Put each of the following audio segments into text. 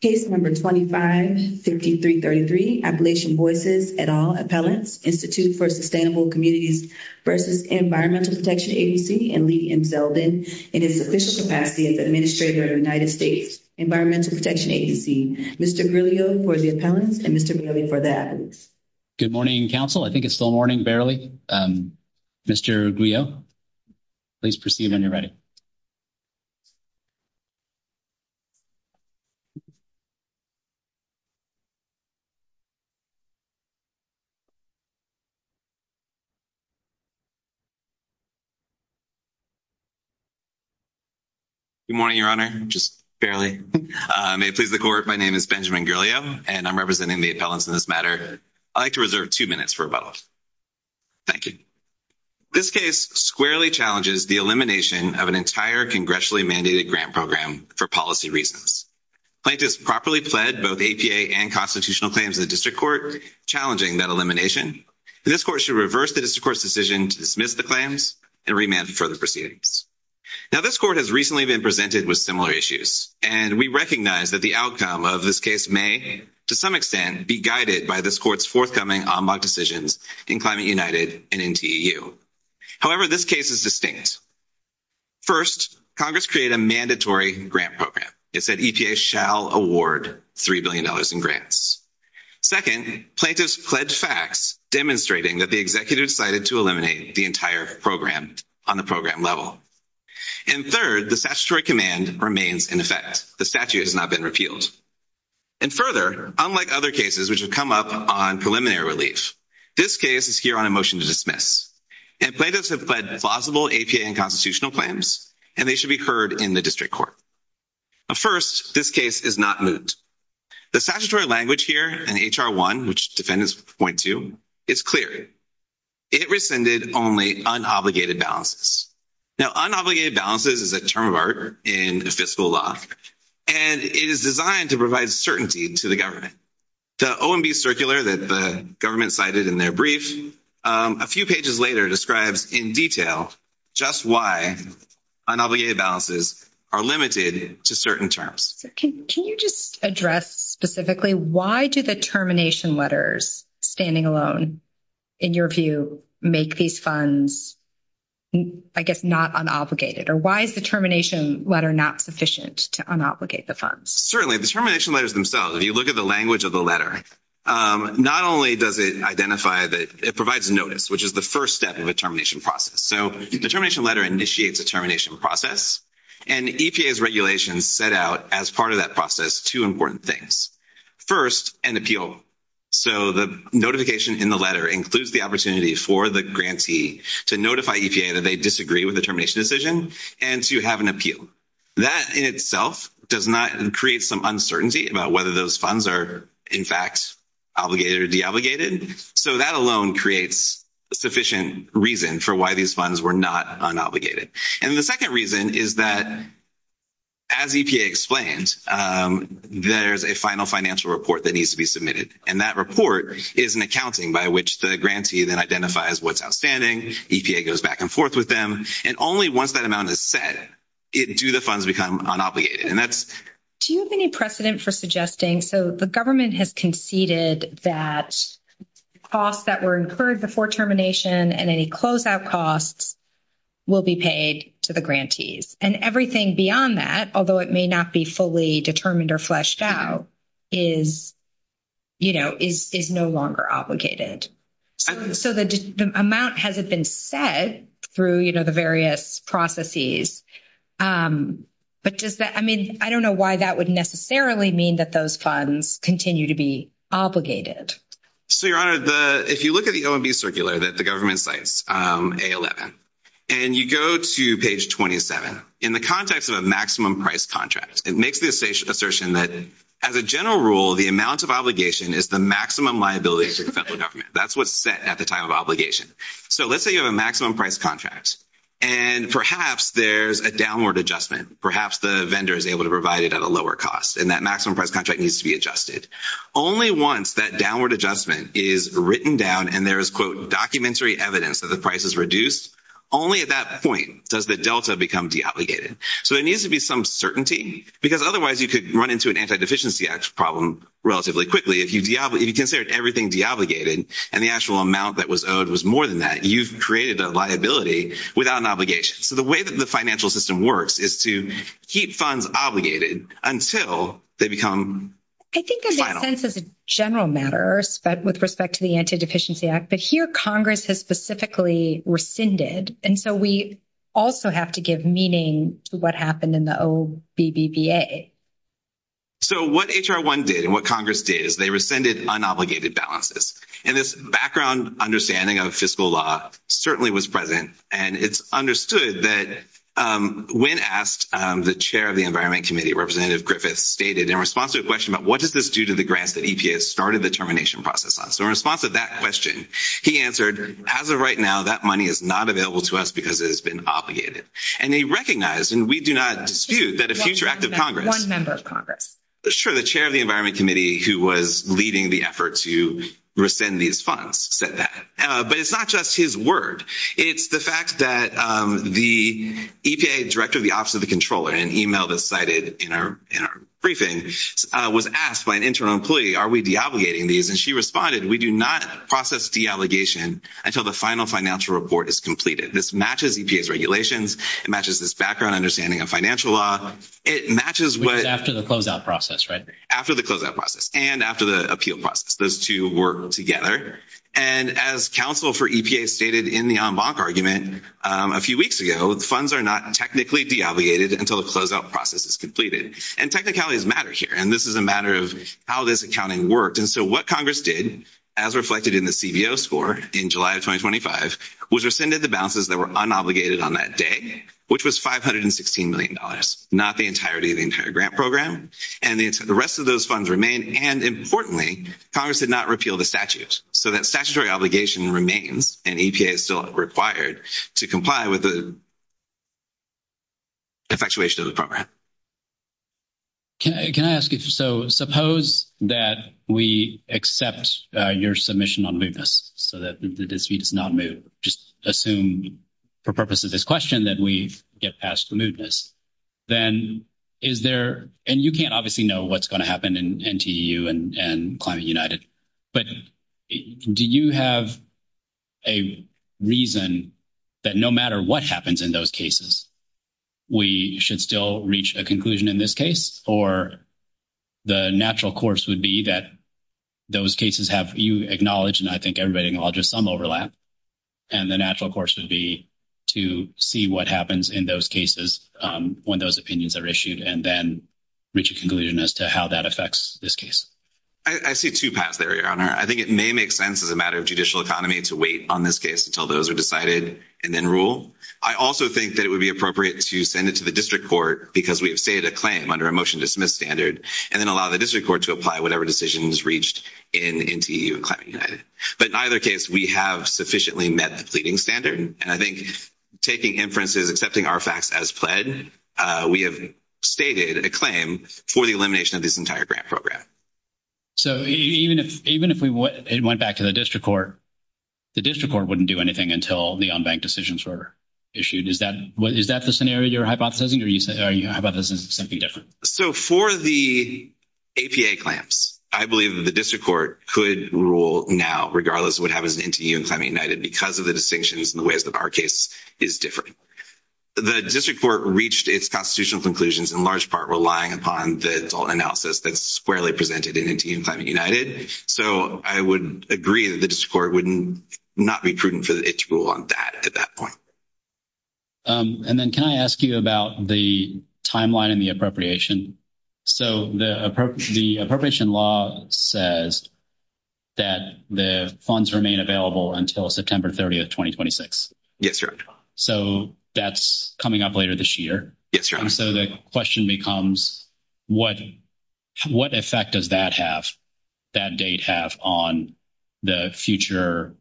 Case number 25-3333 Appalachian Voices et al. Appellants Institute for Sustainable Communities versus Environmental Protection Agency and Lee M. Zeldin in its official capacity as Administrator of the United States Environmental Protection Agency. Mr. Grillo for the appellants and Mr. Bailey for the appellants. Good morning council. I think it's still morning, barely. Mr. Grillo, please proceed when you're ready. Good morning, your honor, just barely. May it please the court, my name is Benjamin Grillo and I'm representing the appellants in this matter. I'd like to reserve 2 minutes for rebuttal. Thank you. This case squarely challenges the elimination of an entire congressionally mandated grant program for policy reasons. Plaintiffs properly pled both APA and constitutional claims in the district court, challenging that elimination. This court should reverse the district court's decision to dismiss the claims and remand for the proceedings. Now, this court has recently been presented with similar issues, and we recognize that the outcome of this case may, to some extent, be guided by this court's forthcoming ombud decisions in Climate United and in TEU. However, this case is distinct. First, Congress created a mandatory grant program. It said EPA shall award $3 billion in grants. Second, plaintiffs pledged facts, demonstrating that the executive decided to eliminate the entire program on the program level. And third, the statutory command remains in effect. The statute has not been repealed. And further, unlike other cases which have come up on preliminary relief, this case is here on a motion to dismiss. And plaintiffs have pled plausible APA and constitutional claims, and they should be heard in the district court. Now, first, this case is not moot. The statutory language here in H.R. 1, which defendants point to, is clear. It rescinded only unobligated balances. Now, unobligated balances is a term of art in the fiscal law, and it is designed to provide certainty to the government. The OMB circular that the government cited in their brief, a few pages later, describes in detail just why unobligated balances are limited to certain terms. Can you just address specifically why do the termination letters, standing alone, in your view, make these funds, I guess, not unobligated? Or why is the termination letter not sufficient to unobligate the funds? Certainly, the termination letters themselves, if you look at the language of the letter, not only does it identify that it provides notice, which is the first step of a termination process. So, the termination letter initiates a termination process, and EPA's regulations set out, as part of that process, two important things. First, an appeal. So, the notification in the letter includes the opportunity for the grantee to notify EPA that they disagree with the termination decision and to have an appeal. That, in itself, does not create some uncertainty about whether those funds are, in fact, obligated or deobligated. So, that alone creates sufficient reason for why these funds were not unobligated. And the second reason is that, as EPA explains, there's a final financial report that needs to be submitted. And that report is an accounting by which the grantee then identifies what's outstanding. EPA goes back and forth with them. And only once that amount is set, do the funds become unobligated. And that's— Do you have any precedent for suggesting—so, the government has conceded that costs that were incurred before termination and any closeout costs will be paid to the grantees. And everything beyond that, although it may not be fully determined or fleshed out, is no longer obligated. So, the amount hasn't been set through the various processes. But does that—I mean, I don't know why that would necessarily mean that those funds continue to be obligated. So, Your Honor, if you look at the OMB circular that the government cites, A11, and you go to page 27, in the context of a maximum price contract, it makes the assertion that, as a general rule, the amount of obligation is the maximum liability to the federal government. That's what's set at the time of obligation. So, let's say you have a maximum price contract, and perhaps there's a downward adjustment. Perhaps the vendor is able to provide it at a lower cost, and that maximum price contract needs to be adjusted. Only once that downward adjustment is written down and there is, quote, documentary evidence that the price is reduced, only at that point does the delta become deobligated. So, there needs to be some certainty, because otherwise you could run into an Antideficiency Act problem relatively quickly if you consider everything deobligated and the actual amount that was owed was more than that. You've created a liability without an obligation. So, the way that the financial system works is to keep funds obligated until they become final. It makes sense as a general matter with respect to the Antideficiency Act, but here Congress has specifically rescinded, and so we also have to give meaning to what happened in the OBBBA. So, what H.R. 1 did and what Congress did is they rescinded unobligated balances, and this background understanding of fiscal law certainly was present, and it's understood that when asked, the chair of the Environment Committee, Representative Griffiths, stated in response to a question about what does this do to the grants that EPA has started the termination process on. So, in response to that question, he answered, as of right now, that money is not available to us because it has been obligated, and he recognized, and we do not dispute, that a future act of Congress. One member of Congress. process deobligation until the final financial report is completed. This matches EPA's regulations. It matches this background understanding of financial law. It matches what— Which is after the closeout process, right? After the closeout process and after the appeal process. Those two work together, and as counsel for EPA stated in the en banc argument a few weeks ago, funds are not technically deobligated until the closeout process is completed, and technicalities matter here, and this is a matter of how this accounting worked. So, what Congress did, as reflected in the CBO score in July of 2025, was rescinded the balances that were unobligated on that day, which was $516 million, not the entirety of the entire grant program, and the rest of those funds remain, and importantly, Congress did not repeal the statute. So, that statutory obligation remains, and EPA is still required to comply with the effectuation of the program. Can I ask you—so, suppose that we accept your submission on mootness, so that the dispute is not moot, just assume for purposes of this question that we get past the mootness, then is there—and you can't obviously know what's going to happen in NTU and Climate United, but do you have a reason that no matter what happens in those cases, we should still reach a conclusion in this case, or the natural course would be that those cases have—you acknowledge, and I think everybody acknowledges some overlap, and the natural course would be to see what happens in those cases when those opinions are issued and then reach a conclusion as to how that affects this case? I see two paths there, Your Honor. I think it may make sense as a matter of judicial economy to wait on this case until those are decided and then rule. I also think that it would be appropriate to send it to the district court because we have stated a claim under a motion to dismiss standard and then allow the district court to apply whatever decisions reached in NTU and Climate United. But in either case, we have sufficiently met the pleading standard, and I think taking inferences, accepting our facts as pled, we have stated a claim for the elimination of this entire grant program. So even if we went back to the district court, the district court wouldn't do anything until the unbanked decisions were issued. Is that the scenario you're hypothesizing, or are you hypothesizing something different? So for the APA claims, I believe that the district court could rule now regardless of what happens in NTU and Climate United because of the distinctions and the ways that our case is different. The district court reached its constitutional conclusions in large part relying upon the adult analysis that's squarely presented in NTU and Climate United, so I would agree that the district court would not be prudent for it to rule on that at that point. And then can I ask you about the timeline and the appropriation? So the appropriation law says that the funds remain available until September 30, 2026. Yes, sir. So that's coming up later this year? Yes, sir. So the question becomes, what effect does that date have on the future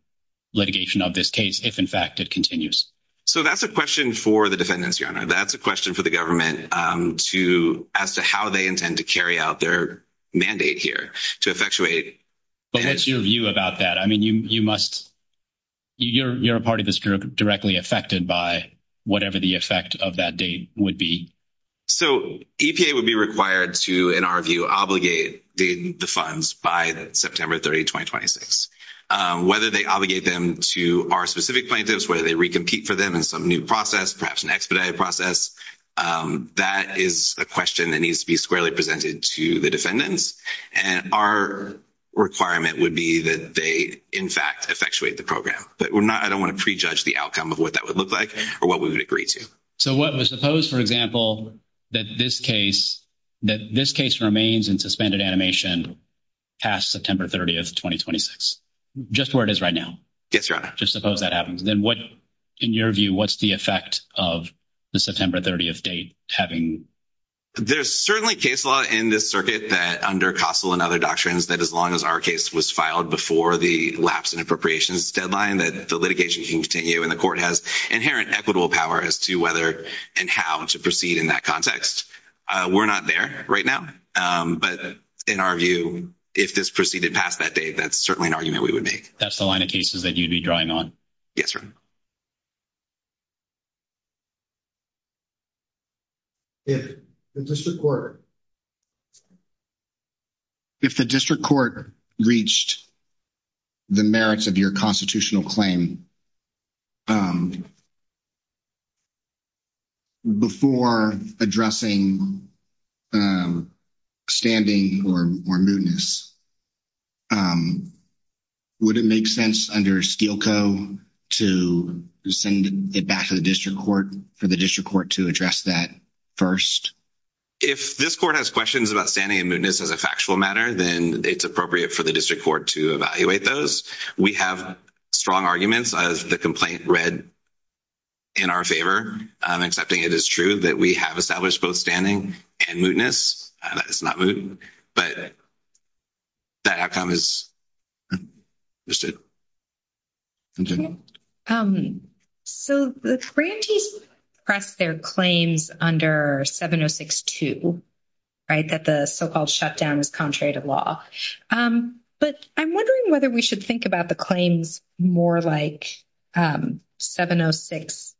litigation of this case if, in fact, it continues? So that's a question for the defendants, Your Honor. That's a question for the government as to how they intend to carry out their mandate here to effectuate. But what's your view about that? I mean, you must – you're a part of the district directly affected by whatever the effect of that date would be. So EPA would be required to, in our view, obligate the funds by September 30, 2026. Whether they obligate them to our specific plaintiffs, whether they recompete for them in some new process, perhaps an expedited process, that is a question that needs to be squarely presented to the defendants. And our requirement would be that they, in fact, effectuate the program. But we're not – I don't want to prejudge the outcome of what that would look like or what we would agree to. So what – suppose, for example, that this case – that this case remains in suspended animation past September 30, 2026, just where it is right now? Yes, Your Honor. Just suppose that happens. Then what – in your view, what's the effect of the September 30th date having – There's certainly case law in this circuit that under CASTLE and other doctrines that as long as our case was filed before the lapse in appropriations deadline that the litigation can continue and the court has inherent equitable power as to whether and how to proceed in that context. We're not there right now. But in our view, if this proceeded past that date, that's certainly an argument we would make. That's the line of cases that you'd be drawing on? Yes, Your Honor. The district court. If the district court reached the merits of your constitutional claim before addressing standing or mootness, would it make sense under Steele Co. to send it back to the district court for the district court to address that first? If this court has questions about standing and mootness as a factual matter, then it's appropriate for the district court to evaluate those. We have strong arguments as the complaint read in our favor, accepting it is true that we have established both standing and mootness. It's not moot, but that outcome is understood. So the grantees press their claims under 706-2, right, that the so-called shutdown is contrary to law. But I'm wondering whether we should think about the claims more like 706-1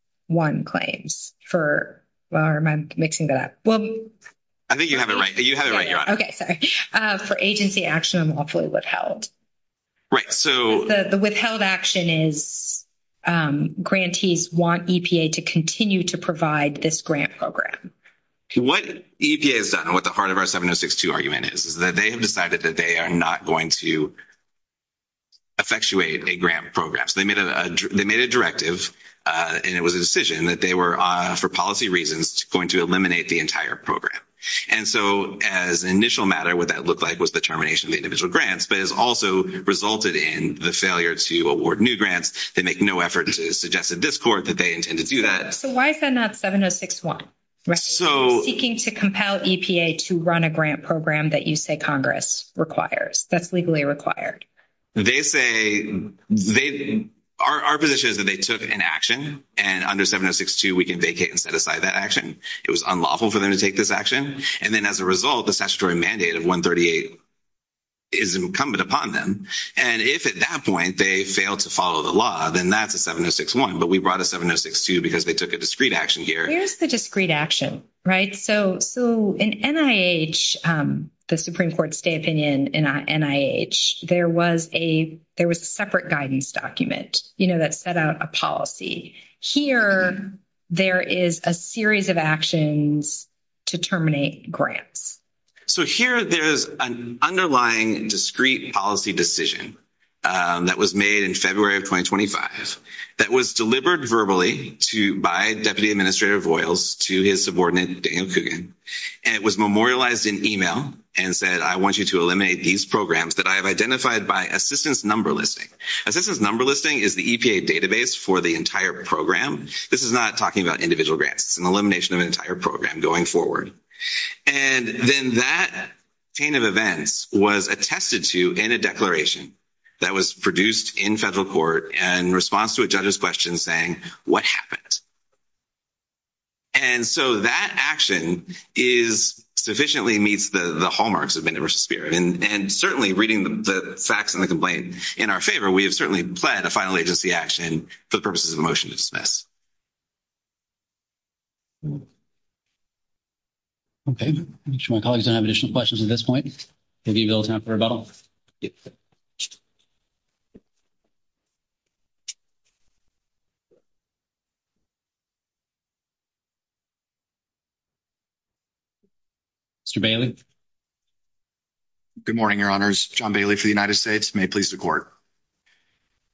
claims for, well, am I mixing that up? I think you have it right. You have it right, Your Honor. Okay, sorry. For agency action, I'm awfully withheld. Right, so. The withheld action is grantees want EPA to continue to provide this grant program. What EPA has done, what the heart of our 706-2 argument is, is that they have decided that they are not going to effectuate a grant program. So they made a directive, and it was a decision that they were, for policy reasons, going to eliminate the entire program. And so as an initial matter, what that looked like was the termination of the individual grants, but it has also resulted in the failure to award new grants. They make no effort to suggest to this court that they intend to do that. So why is that not 706-1? So. Seeking to compel EPA to run a grant program that you say Congress requires, that's legally required. They say, our position is that they took an action, and under 706-2 we can vacate and set aside that action. It was unlawful for them to take this action. And then as a result, the statutory mandate of 138 is incumbent upon them. And if at that point they fail to follow the law, then that's a 706-1. But we brought a 706-2 because they took a discreet action here. Where's the discreet action, right? So in NIH, the Supreme Court's state opinion in NIH, there was a separate guidance document that set out a policy. Here there is a series of actions to terminate grants. So here there's an underlying discreet policy decision that was made in February of 2025 that was delivered verbally by Deputy Administrator Voiles to his subordinate Daniel Coogan, and it was memorialized in email and said, I want you to eliminate these programs that I have identified by assistance number listing. Assistance number listing is the EPA database for the entire program. This is not talking about individual grants. It's an elimination of an entire program going forward. And then that chain of events was attested to in a declaration that was produced in federal court in response to a judge's question saying, what happened? And so that action is sufficiently meets the hallmarks of universal spirit. And certainly reading the facts and the complaint in our favor, we have certainly pled a final agency action for the purposes of a motion to dismiss. Okay. Make sure my colleagues don't have additional questions at this point. Have you a little time for rebuttal? Mr. Bailey. Good morning, Your Honors. John Bailey for the United States. May it please the court.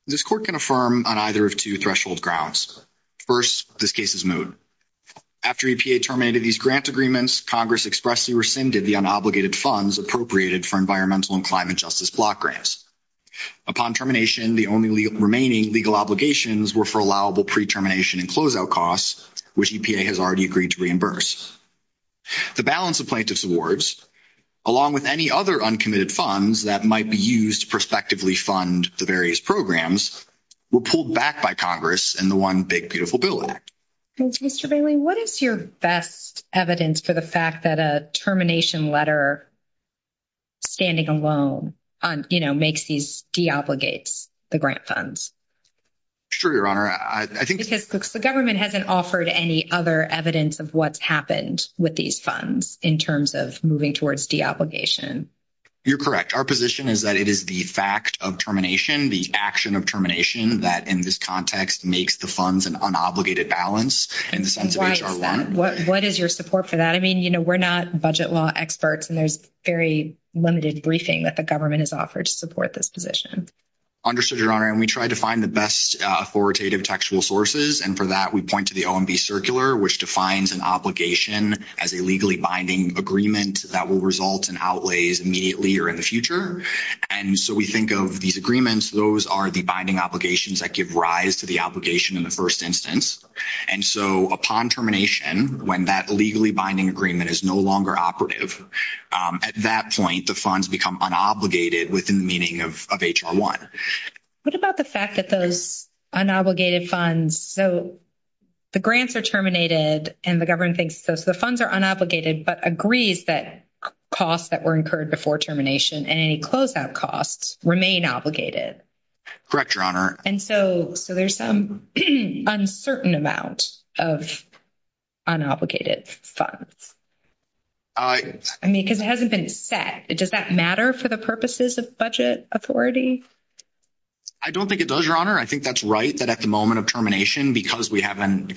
This court can affirm on either of two threshold grounds. First, this case is moot. After EPA terminated these grant agreements, Congress expressly rescinded the unobligated funds appropriated for environmental and climate justice block grants. Upon termination, the only remaining legal obligations were for allowable pre-termination and closeout costs, which EPA has already agreed to reimburse. The balance of plaintiff's awards, along with any other uncommitted funds that might be used to prospectively fund the various programs, were pulled back by Congress in the one big beautiful bill. Mr. what is your best evidence for the fact that a termination letter standing alone, you know, makes these de-obligates the grant funds? Sure, Your Honor. Because the government hasn't offered any other evidence of what's happened with these funds in terms of moving towards de-obligation. You're correct. Our position is that it is the fact of termination, the action of termination that in this context makes the funds an unobligated balance in the sense of HR 1. What is your support for that? I mean, you know, we're not budget law experts and there's very limited briefing that the government has offered to support this position. Understood, Your Honor. And we try to find the best authoritative textual sources. And for that, we point to the OMB circular, which defines an obligation as a legally binding agreement that will result in outlays immediately or in the future. And so we think of these agreements, those are the binding obligations that give rise to the obligation in the first instance. And so upon termination, when that legally binding agreement is no longer operative, at that point the funds become unobligated within the meaning of HR 1. What about the fact that those unobligated funds, so the grants are terminated and the government thinks, so the funds are unobligated, but agrees that costs that were incurred before termination and any closeout costs remain obligated. Correct, Your Honor. And so there's some uncertain amount of unobligated funds. I mean, because it hasn't been set. Does that matter for the purposes of budget authority? I don't think it does, Your Honor. I think that's right that at the moment of termination, because we haven't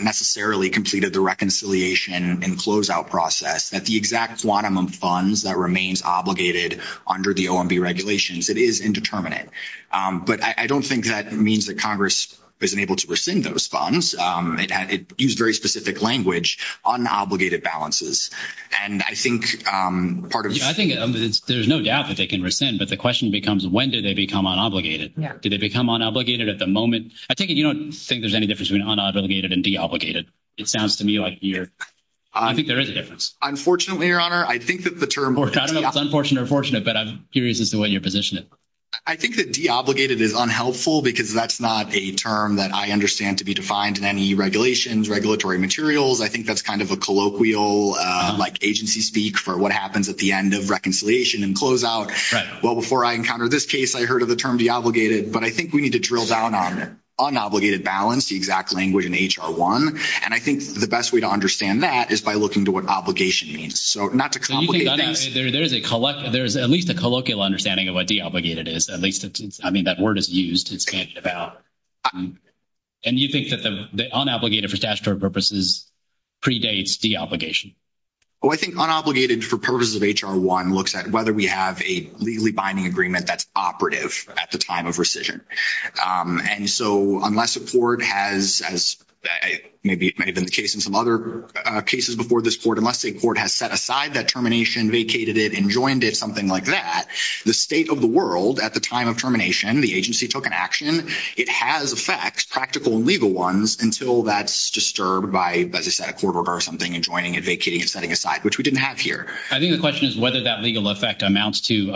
necessarily completed the reconciliation and closeout process, that the exact quantum of funds that remains obligated under the OMB regulations, it is indeterminate. But I don't think that means that Congress isn't able to rescind those It used very specific language, unobligated balances. And I think part of. I think there's no doubt that they can rescind, but the question becomes when did they become unobligated? Did they become unobligated at the moment? I take it you don't think there's any difference between unobligated and de-obligated. It sounds to me like you're. I think there is a difference. Unfortunately, Your Honor, I think that the term. I don't know if it's unfortunate or fortunate, but I'm curious as to what your position is. I think that de-obligated is unhelpful because that's not a term that I understand to be defined in any regulations, regulatory materials. I think that's kind of a colloquial like agency speak for what happens at the end of reconciliation and closeout. Well, before I encountered this case, I heard of the term de-obligated, but I think we need to drill down on unobligated balance, the exact language in HR 1. And I think the best way to understand that is by looking to what obligation means. So not to complicate things. There's at least a colloquial understanding of what de-obligated is. At least, I mean, that word is used. It's handed about. And you think that the unobligated for statutory purposes predates de-obligation? Oh, I think unobligated for purposes of HR 1 looks at whether we have a legally binding agreement that's operative at the time of rescission. And so unless a court has, as maybe it may have been the case in some other cases before this court, unless a court has set aside that termination, vacated it, enjoined it, something like that, the state of the world, at the time of termination, the agency took an action. It has effects, practical and legal ones, until that's disturbed by, as I said, a court order or something, enjoining it, vacating it, setting aside, which we didn't have here. I think the question is whether that legal effect amounts to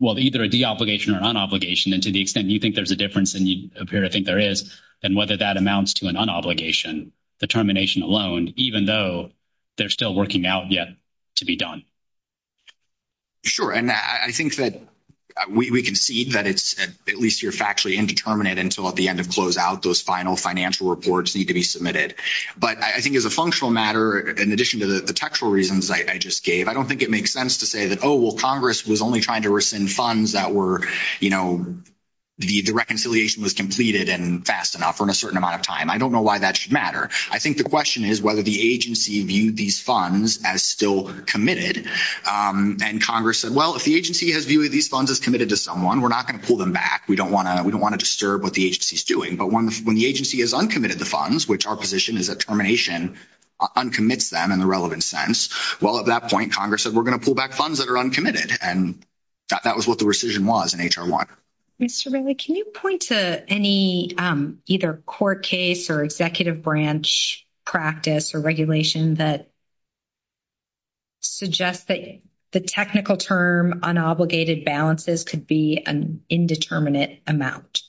either a de-obligation or unobligation. And to the extent you think there's a difference and you appear to think there is, then whether that amounts to an unobligation, the termination alone, even though they're still working out yet to be done. Sure. And I think that we concede that it's at least you're factually indeterminate until at the end of closeout, those final financial reports need to be submitted. But I think as a functional matter, in addition to the textual reasons I just gave, I don't think it makes sense to say that, oh, well, Congress was only trying to rescind funds that were, you know, the reconciliation was completed and fast enough or in a certain amount of time. I don't know why that should matter. I think the question is whether the agency viewed these funds as still committed. And Congress said, well, if the agency has viewed these funds as committed to someone, we're not going to pull them back. We don't want to disturb what the agency is doing. But when the agency has uncommitted the funds, which our position is that termination uncommits them in the relevant sense, well, at that point, Congress said we're going to pull back funds that are uncommitted. And that was what the rescission was in HR 1. Mr. Bingley, can you point to any either court case or executive branch practice or regulation that suggests that the technical term, unobligated balances could be an indeterminate amount,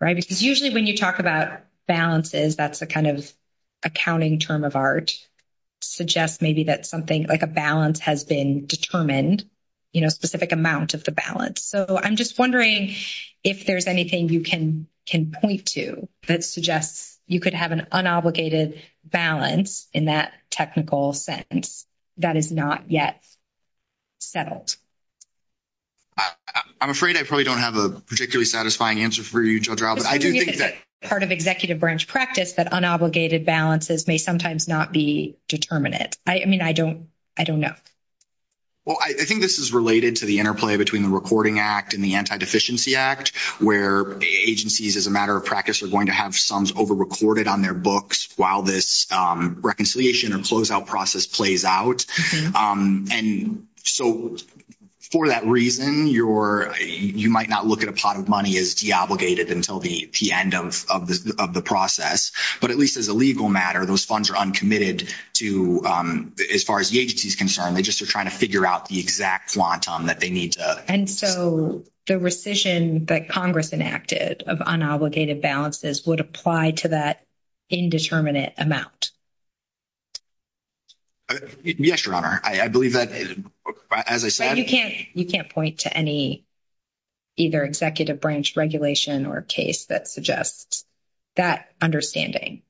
right? Because usually when you talk about balances, that's a kind of accounting term of art suggests maybe that something like a balance has been determined, you know, specific amount of the balance. So I'm just wondering if there's anything you can point to that suggests you could have an unobligated balance in that technical sense that is not yet settled. I'm afraid I probably don't have a particularly satisfying answer for you, Judge Rao, but I do think that. Part of executive branch practice, that unobligated balances may sometimes not be determinate. I mean, I don't, I don't know. Well, I think this is related to the interplay between the recording act and the anti-deficiency act where agencies as a matter of practice are going to have sums over-recorded on their books while this reconciliation or closeout process plays out. And so for that reason, you might not look at a pot of money as de-obligated until the end of the process, but at least as a legal matter, those funds are uncommitted to as far as the agency's concerned, they just are trying to figure out the exact quantum that they need to. And so the rescission that Congress enacted of unobligated balances would apply to that indeterminate amount. Yes, Your Honor. I believe that as I said. You can't, you can't point to any either executive branch regulation or case that has that understanding.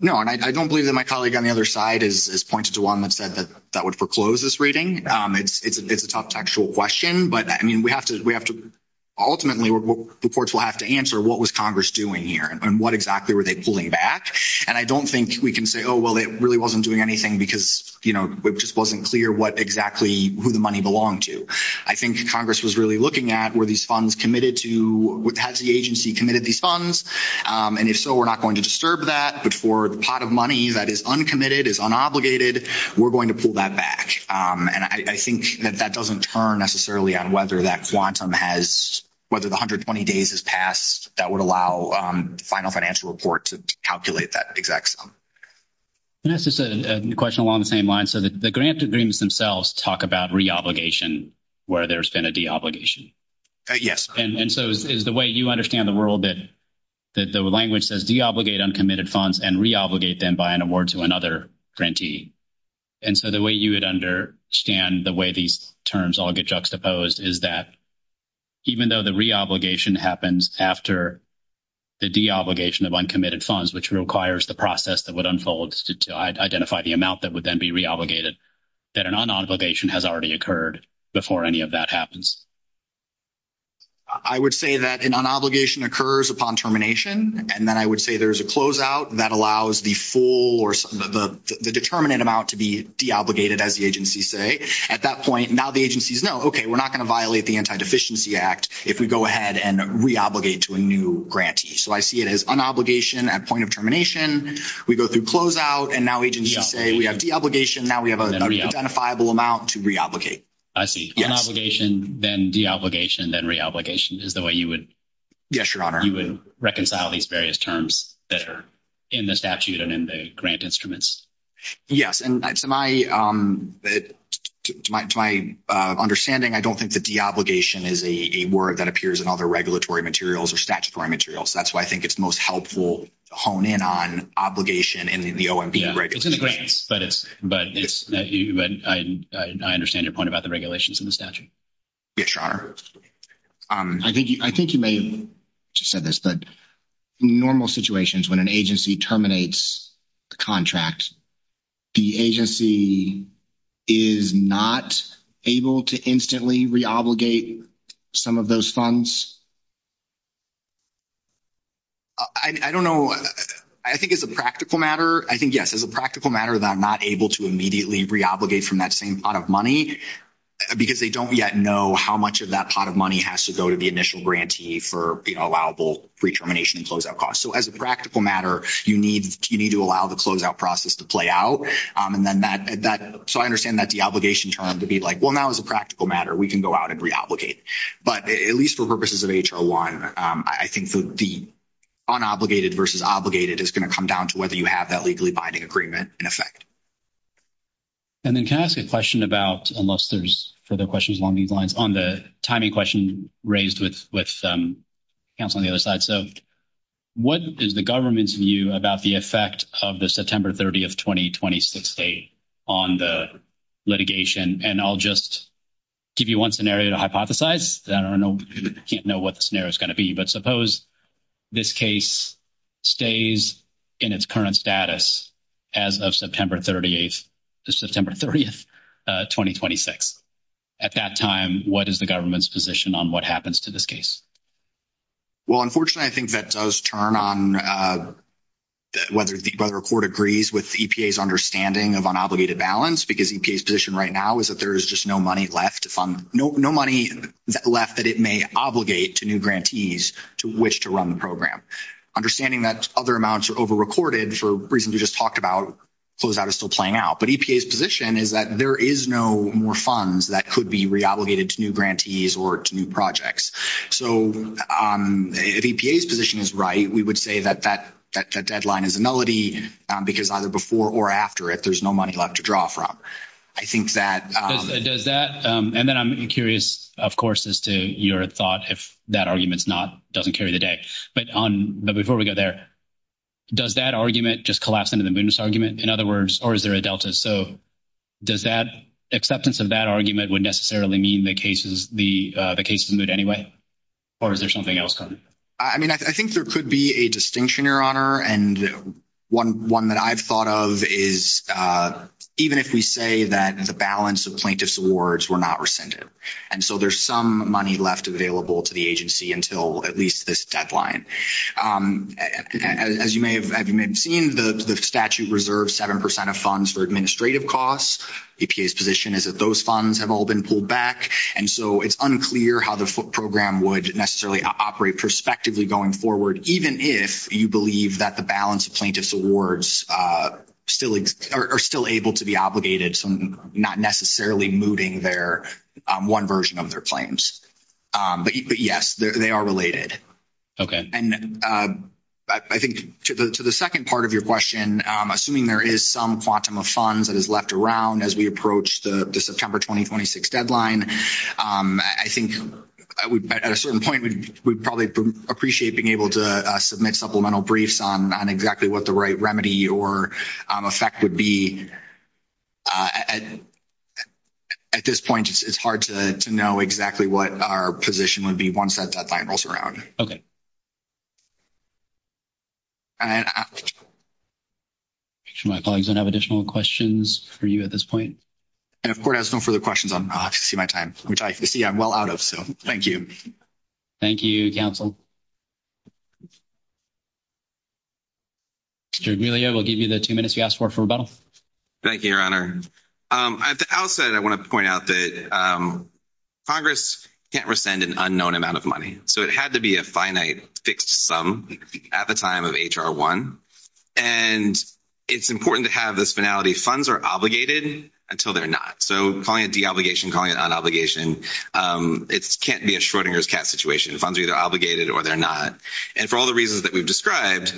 No, and I don't believe that my colleague on the other side is pointed to one that said that that would foreclose this reading. It's, it's, it's a tough textual question, but I mean, we have to, we have to ultimately reports. We'll have to answer what was Congress doing here and what exactly were they pulling back? And I don't think we can say, oh, well, it really wasn't doing anything because you know, it just wasn't clear what exactly who the money belonged to. I think Congress was really looking at where these funds committed to what agency committed these funds. And if so, we're not going to disturb that, but for the pot of money that is uncommitted is unobligated. We're going to pull that back. And I think that that doesn't turn necessarily on whether that quantum has, whether the 120 days has passed, that would allow final financial report to calculate that exact sum. And that's just a question along the same line. So the grant agreements themselves talk about re-obligation where there's been a de-obligation. Yes. And so is the way you understand the world that, that the language says de-obligate uncommitted funds and re-obligate them by an award to another grantee. And so the way you would understand the way these terms all get juxtaposed is that even though the re-obligation happens after the de-obligation of uncommitted funds, which requires the process that would unfold to identify the amount that would then be re-obligated, that an un-obligation has already occurred before any of that happens. I would say that an un-obligation occurs upon termination. And then I would say there's a closeout that allows the full or the determinate amount to be de-obligated as the agencies say. At that point, now the agencies know, okay, we're not going to violate the anti-deficiency act if we go ahead and re-obligate to a new grantee. So I see it as un-obligation at point of termination. We go through closeout and now agencies say we have de-obligation. Now we have an identifiable amount to re-obligate. I see. Un-obligation, then de-obligation, then re-obligation, is the way you would reconcile these various terms that are in the statute and in the grant instruments. Yes. And to my understanding, I don't think that de-obligation is a word that appears in other regulatory materials or statutory materials. That's why I think it's most helpful to hone in on obligation in the OMB regulations. It's in the grants, but I understand your point about the regulations in the statute. Yes, Your Honor. I think you may have just said this, but in normal situations when an agency terminates the contract, the agency is not able to instantly re-obligate some of those funds? I don't know. I think as a practical matter, I think yes. As a practical matter, they're not able to immediately re-obligate from that same pot of money because they don't yet know how much of that pot of money has to go to the initial grantee for allowable pre-termination and closeout costs. So as a practical matter, you need to allow the closeout process to play out. So I understand that de-obligation term to be like, well, now as a practical matter, we can go out and re-obligate. But at least for purposes of H01, I think the un-obligated versus obligated is going to come down to whether you have that legally binding agreement in effect. And then can I ask a question about, unless there's further questions along these lines, on the timing question raised with counsel on the other side. So what is the government's view about the effect of the September 30th, 2026 date on the litigation? And I'll just give you one scenario to hypothesize. I don't know. I can't know what the scenario is going to be. But suppose this case stays in its current status as of September 30th, 2026. At that time, what is the government's position on what happens to this case? Well, unfortunately, I think that does turn on whether a court agrees with EPA's understanding of un-obligated balance, because EPA's position right now is that there is just no money left, no money left that it may obligate to new grantees to which to run the Understanding that other amounts are over-recorded for reasons we just talked about, closeout is still playing out. But EPA's position is that there is no more funds that could be re-obligated to new grantees or to new projects. So if EPA's position is right, we would say that that deadline is a nullity because either before or after it, there's no money left to draw from. Does that, and then I'm curious, of course, as to your thought if that argument doesn't carry the day. But before we go there, does that argument just collapse into the Moodness argument? In other words, or is there a delta? So does that acceptance of that argument would necessarily mean the case is Mood anyway? Or is there something else going? I mean, I think there could be a distinction, Your Honor. And one that I've thought of is, even if we say that the balance of plaintiff's awards were not rescinded. And so there's some money left available to the agency until at least this deadline. As you may have seen, the statute reserves 7% of funds for administrative costs. EPA's position is that those funds have all been pulled back. And so it's unclear how the program would necessarily operate prospectively going forward, even if you believe that the balance of plaintiff's awards still are still able to be obligated. So not necessarily mooting their one version of their claims. But yes, they are related. And I think to the second part of your question, assuming there is some quantum of funds that is left around as we approach the September, 2026 deadline. I think at a certain point, we would probably appreciate being able to submit supplemental briefs on exactly what the right remedy or effect would be. At this point, it's hard to know exactly what our position would be once that deadline rolls around. My colleagues don't have additional questions for you at this point. And of course, no further questions on my time, which I see I'm well out of. So thank you. Thank you. Counsel. We'll give you the two minutes you asked for for rebuttal. Thank you, Your Honor. At the outset, I want to point out that Congress can't rescind an unknown amount of money. So it had to be a finite fixed sum at the time of HR one. And it's important to have this finality funds are obligated until they're not. So calling it deobligation, calling it on obligation. It's can't be a Schrodinger's cat situation. Funds are either obligated or they're not. And for all the reasons that we've described,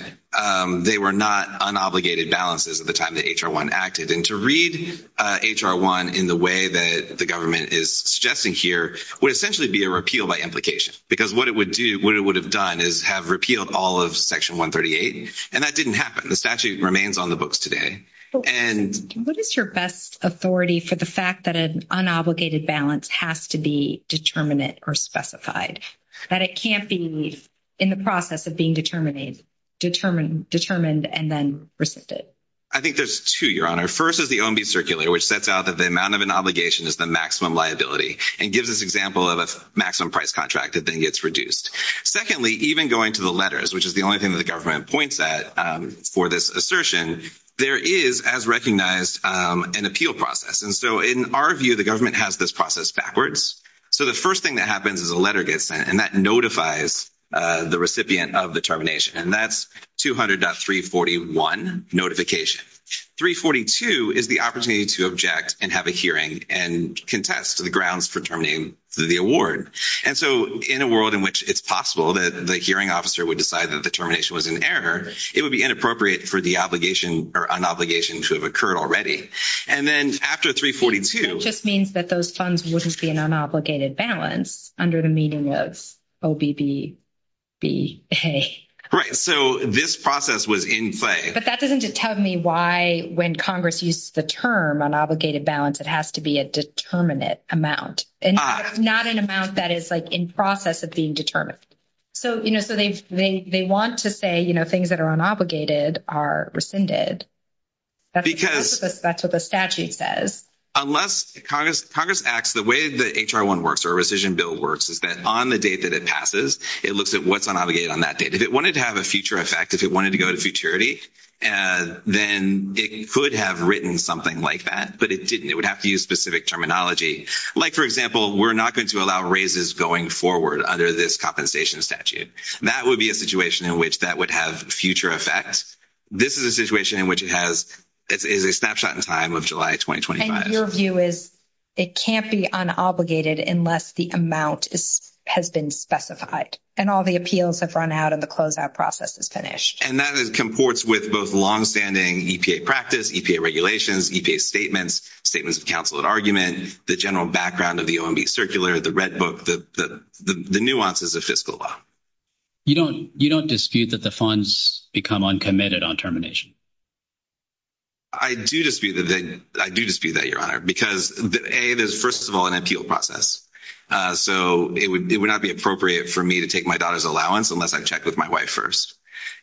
they were not unobligated balances at the time that HR one acted and to read HR one in the way that the government is suggesting here would essentially be a repeal by implication, because what it would do, what it would have done is have repealed all of section 138. And that didn't happen. The statute remains on the books today. What is your best authority for the fact that an unobligated balance has to be determinate or specified, that it can't be in the process of being determined and then rescinded? I think there's two, Your Honor. First is the OMB circular, which sets out that the amount of an obligation is the maximum liability and gives us example of a maximum price contract that then gets reduced. Secondly, even going to the letters, which is the only thing that the government points at for this assertion, there is, as recognized, an appeal process. And so in our view, the government has this process backwards. So the first thing that happens is a letter gets sent and that notifies the recipient of the termination. And that's 200.341 notification. 342 is the opportunity to object and have a hearing and contest the grounds for terminating the award. And so in a world in which it's possible that the hearing officer would decide that the termination was an error, it would be inappropriate for the obligation or an obligation to have occurred already. And then after 342. It just means that those funds wouldn't be an unobligated balance under the meaning of OBBB. Right. So this process was in play. But that doesn't tell me why when Congress used the term unobligated balance, it has to be a determinate amount. And not an amount that is like in process of being determined. So they want to say, you know, things that are unobligated are rescinded. That's what the statute says. Unless Congress acts the way the HR1 works or rescission bill works is that on the date that it passes, it looks at what's unobligated on that date. If it wanted to have a future effect, if it wanted to go to futurity, then it could have written something like that. But it didn't. It would have to use specific terminology. Like, for example, we're not going to allow raises going forward under this compensation statute. That would be a situation in which that would have future effects. This is a situation in which it is a snapshot in time of July 2025. And your view is it can't be unobligated unless the amount has been specified. And all the appeals have run out and the closeout process is finished. And that comports with both longstanding EPA practice, EPA regulations, EPA statements, statements of counsel and argument, the general background of the OMB circular, the red book, the nuances of fiscal law. You don't dispute that the funds become uncommitted on termination? I do dispute that, Your Honor. Because, A, there's first of all an appeal process. So it would not be appropriate for me to take my daughter's allowance unless I check with my wife first.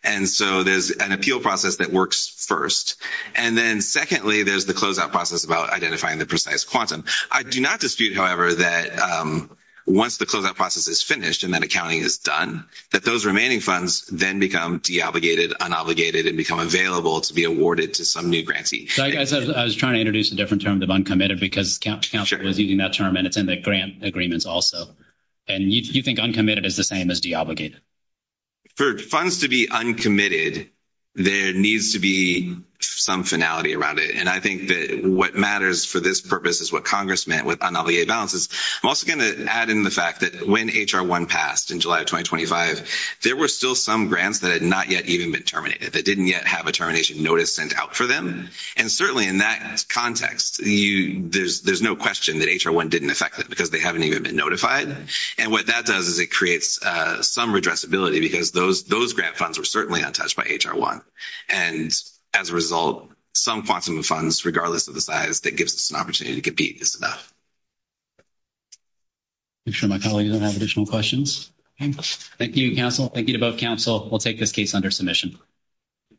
And so there's an appeal process that works first. And then secondly, there's the closeout process about identifying the precise quantum. I do not dispute, however, that once the closeout process is finished and that accounting is done, that those remaining funds then become deobligated, unobligated, and become available to be awarded to some new grantee. I was trying to introduce a different term of uncommitted because counsel was using that term and it's in the grant agreements also. And you think uncommitted is the same as deobligated? For funds to be uncommitted, there needs to be some finality around it. And I think that what matters for this purpose is what Congress meant with unobligated balances. I'm also going to add in the fact that when H.R. 1 passed in July of 2025, there were still some grants that had not yet even been terminated, that didn't yet have a termination notice sent out for them. And certainly in that context, there's no question that H.R. 1 didn't affect them because they haven't even been notified. And what that does is it creates some redressability because those grant funds were certainly untouched by H.R. 1. And as a result, some quantum of funds regardless of the size that gives us an opportunity to compete is enough. Make sure my colleagues don't have additional questions. Thank you, counsel. Thank you to both counsel. We'll take this case under submission.